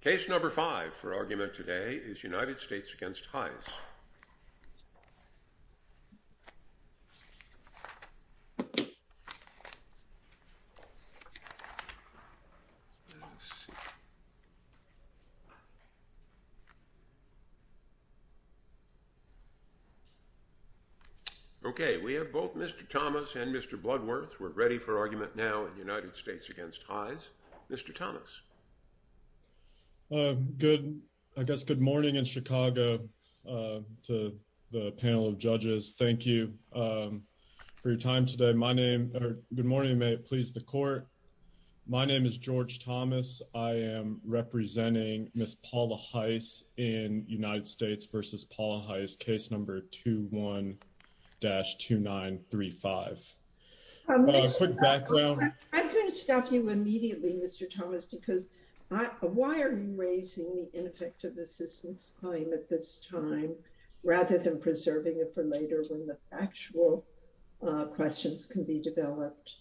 Case number five for argument today is United States v. Hise. Let's see. Okay, we have both Mr. Thomas and Mr. Bloodworth. We're ready for argument now in the United States against Hise. Mr. Thomas. Good. I guess. Good morning in Chicago to the panel of judges. Thank you for your time today. My name. Good morning. May it please the court. My name is George Thomas. I am representing Miss Paula Hise in United States v. Paula Hise case number two one dash two nine three five. Quick background. I'm going to stop you immediately, Mr. Thomas, because why are you raising the ineffective assistance claim at this time, rather than preserving it for later when the actual questions can be developed?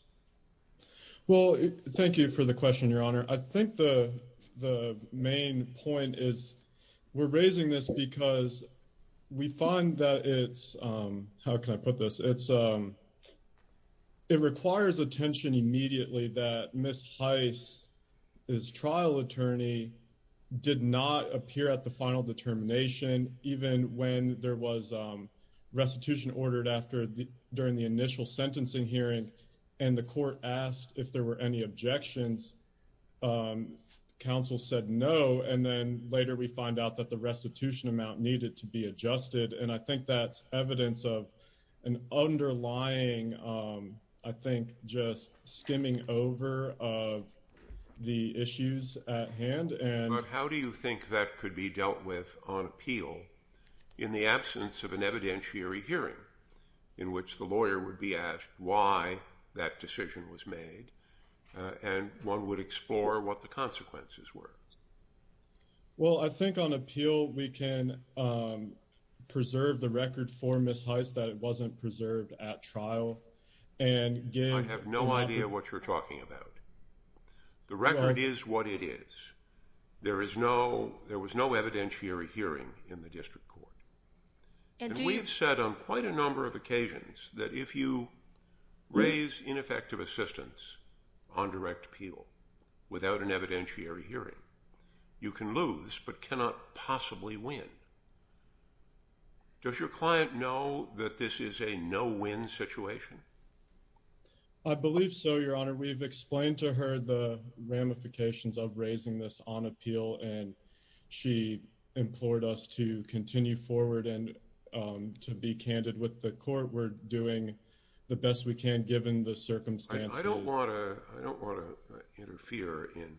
Well, thank you for the question, Your Honor. I think the the main point is we're raising this because we find that it's how can I put this? It's it requires attention immediately that Miss Hise is trial attorney did not appear at the final determination, even when there was restitution ordered after during the initial sentencing hearing and the court asked if there were any objections. Counsel said no. And then later we find out that the restitution amount needed to be adjusted. And I think that's evidence of an underlying, I think, just skimming over of the issues at hand. How do you think that could be dealt with on appeal in the absence of an evidentiary hearing in which the lawyer would be asked why that decision was made and one would explore what the consequences were? Well, I think on appeal, we can preserve the record for Miss Hise that it wasn't preserved at trial. And I have no idea what you're talking about. The record is what it is. There is no there was no evidentiary hearing in the district court. And we have said on quite a number of occasions that if you raise ineffective assistance on direct appeal without an evidentiary hearing, you can lose but cannot possibly win. Does your client know that this is a no win situation? I believe so, Your Honor. We've explained to her the ramifications of raising this on appeal, and she implored us to continue forward and to be candid with the court. We're doing the best we can, given the circumstances. I don't want to interfere in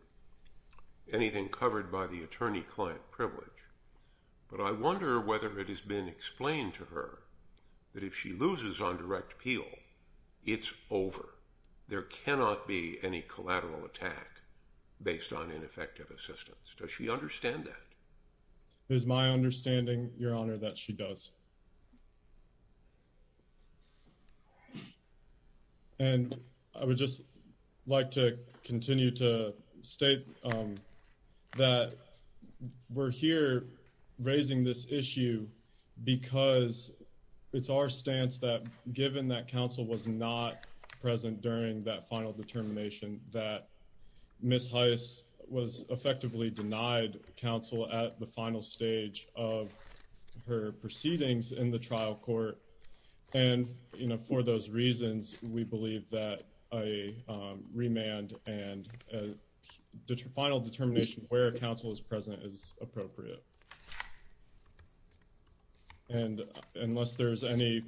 anything covered by the attorney-client privilege, but I wonder whether it has been explained to her that if she loses on direct appeal, it's over. There cannot be any collateral attack based on ineffective assistance. Does she understand that? It is my understanding, Your Honor, that she does. And I would just like to continue to state that we're here raising this issue because it's our stance that given that counsel was not present during that final determination, that Miss Hise was effectively denied counsel at the final stage of her proceeding. There are a number of things in the trial court, and for those reasons, we believe that a remand and a final determination where counsel is present is appropriate. And unless there's any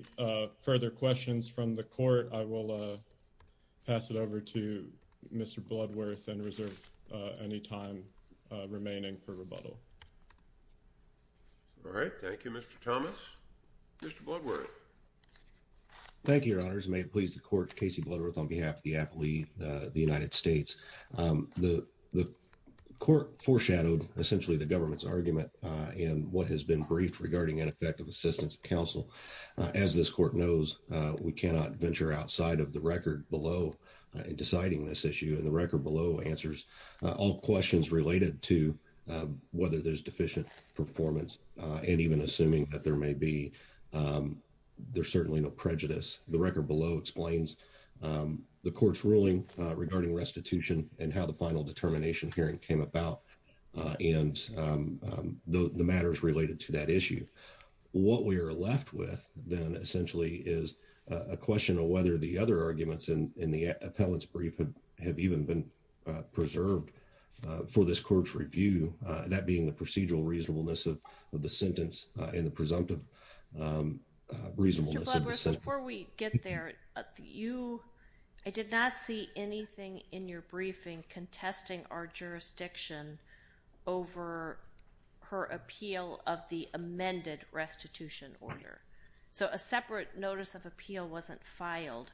further questions from the court, I will pass it over to Mr. Bloodworth and reserve any time remaining for rebuttal. All right. Thank you, Mr. Thomas. Mr. Bloodworth. Thank you, Your Honors. May it please the court, Casey Bloodworth on behalf of the appellee, the United States. The court foreshadowed essentially the government's argument in what has been briefed regarding ineffective assistance of counsel. As this court knows, we cannot venture outside of the record below in deciding this issue. And the record below answers all questions related to whether there's deficient performance and even assuming that there may be. There's certainly no prejudice. The record below explains the court's ruling regarding restitution and how the final determination hearing came about and the matters related to that issue. What we are left with then essentially is a question of whether the other arguments in the appellate's brief have even been preserved for this court's review, that being the procedural reasonableness of the sentence and the presumptive reasonableness of the sentence. Before we get there, I did not see anything in your briefing contesting our jurisdiction over her appeal of the amended restitution order. So a separate notice of appeal wasn't filed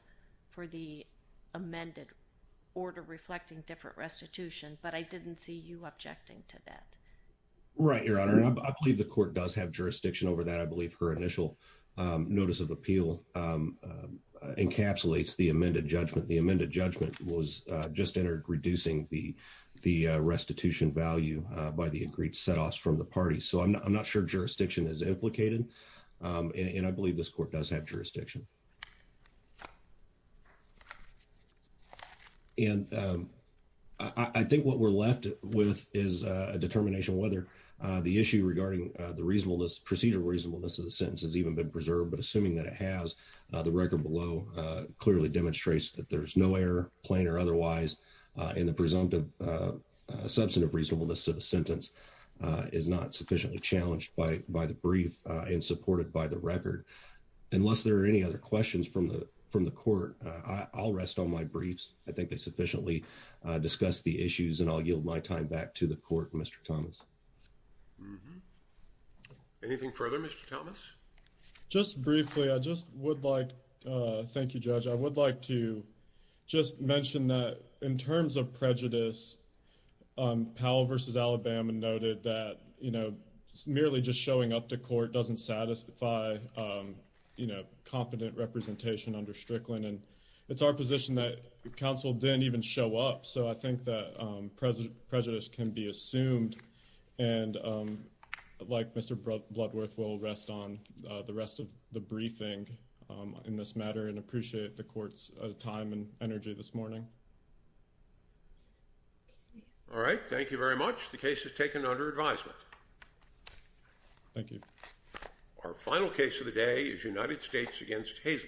for the amended order reflecting different restitution, but I didn't see you objecting to that. Right, Your Honor. I believe the court does have jurisdiction over that. I believe her initial notice of appeal encapsulates the amended judgment. The amended judgment was just entered reducing the restitution value by the agreed setoffs from the party. So I'm not sure jurisdiction is implicated. And I believe this court does have jurisdiction. And I think what we're left with is a determination whether the issue regarding the reasonableness, procedural reasonableness of the sentence has even been preserved. But assuming that it has, the record below clearly demonstrates that there's no error, plain or otherwise, and the presumptive substantive reasonableness of the sentence is not sufficiently challenged by the brief and supported by the record. Unless there are any other questions from the court, I'll rest on my briefs. I think they sufficiently discussed the issues and I'll yield my time back to the court, Mr. Thomas. Anything further, Mr. Thomas? Just briefly, I just would like, thank you, Judge. I would like to just mention that in terms of prejudice, Powell v. Alabama noted that merely just showing up to court doesn't satisfy competent representation under Strickland. And it's our position that counsel didn't even show up. So I think that prejudice can be assumed. And like Mr. Bloodworth, we'll rest on the rest of the briefing in this matter and appreciate the court's time and energy this morning. All right. Thank you very much. The case is taken under advisement. Thank you. Our final case of the day is United States v. Hayesburg.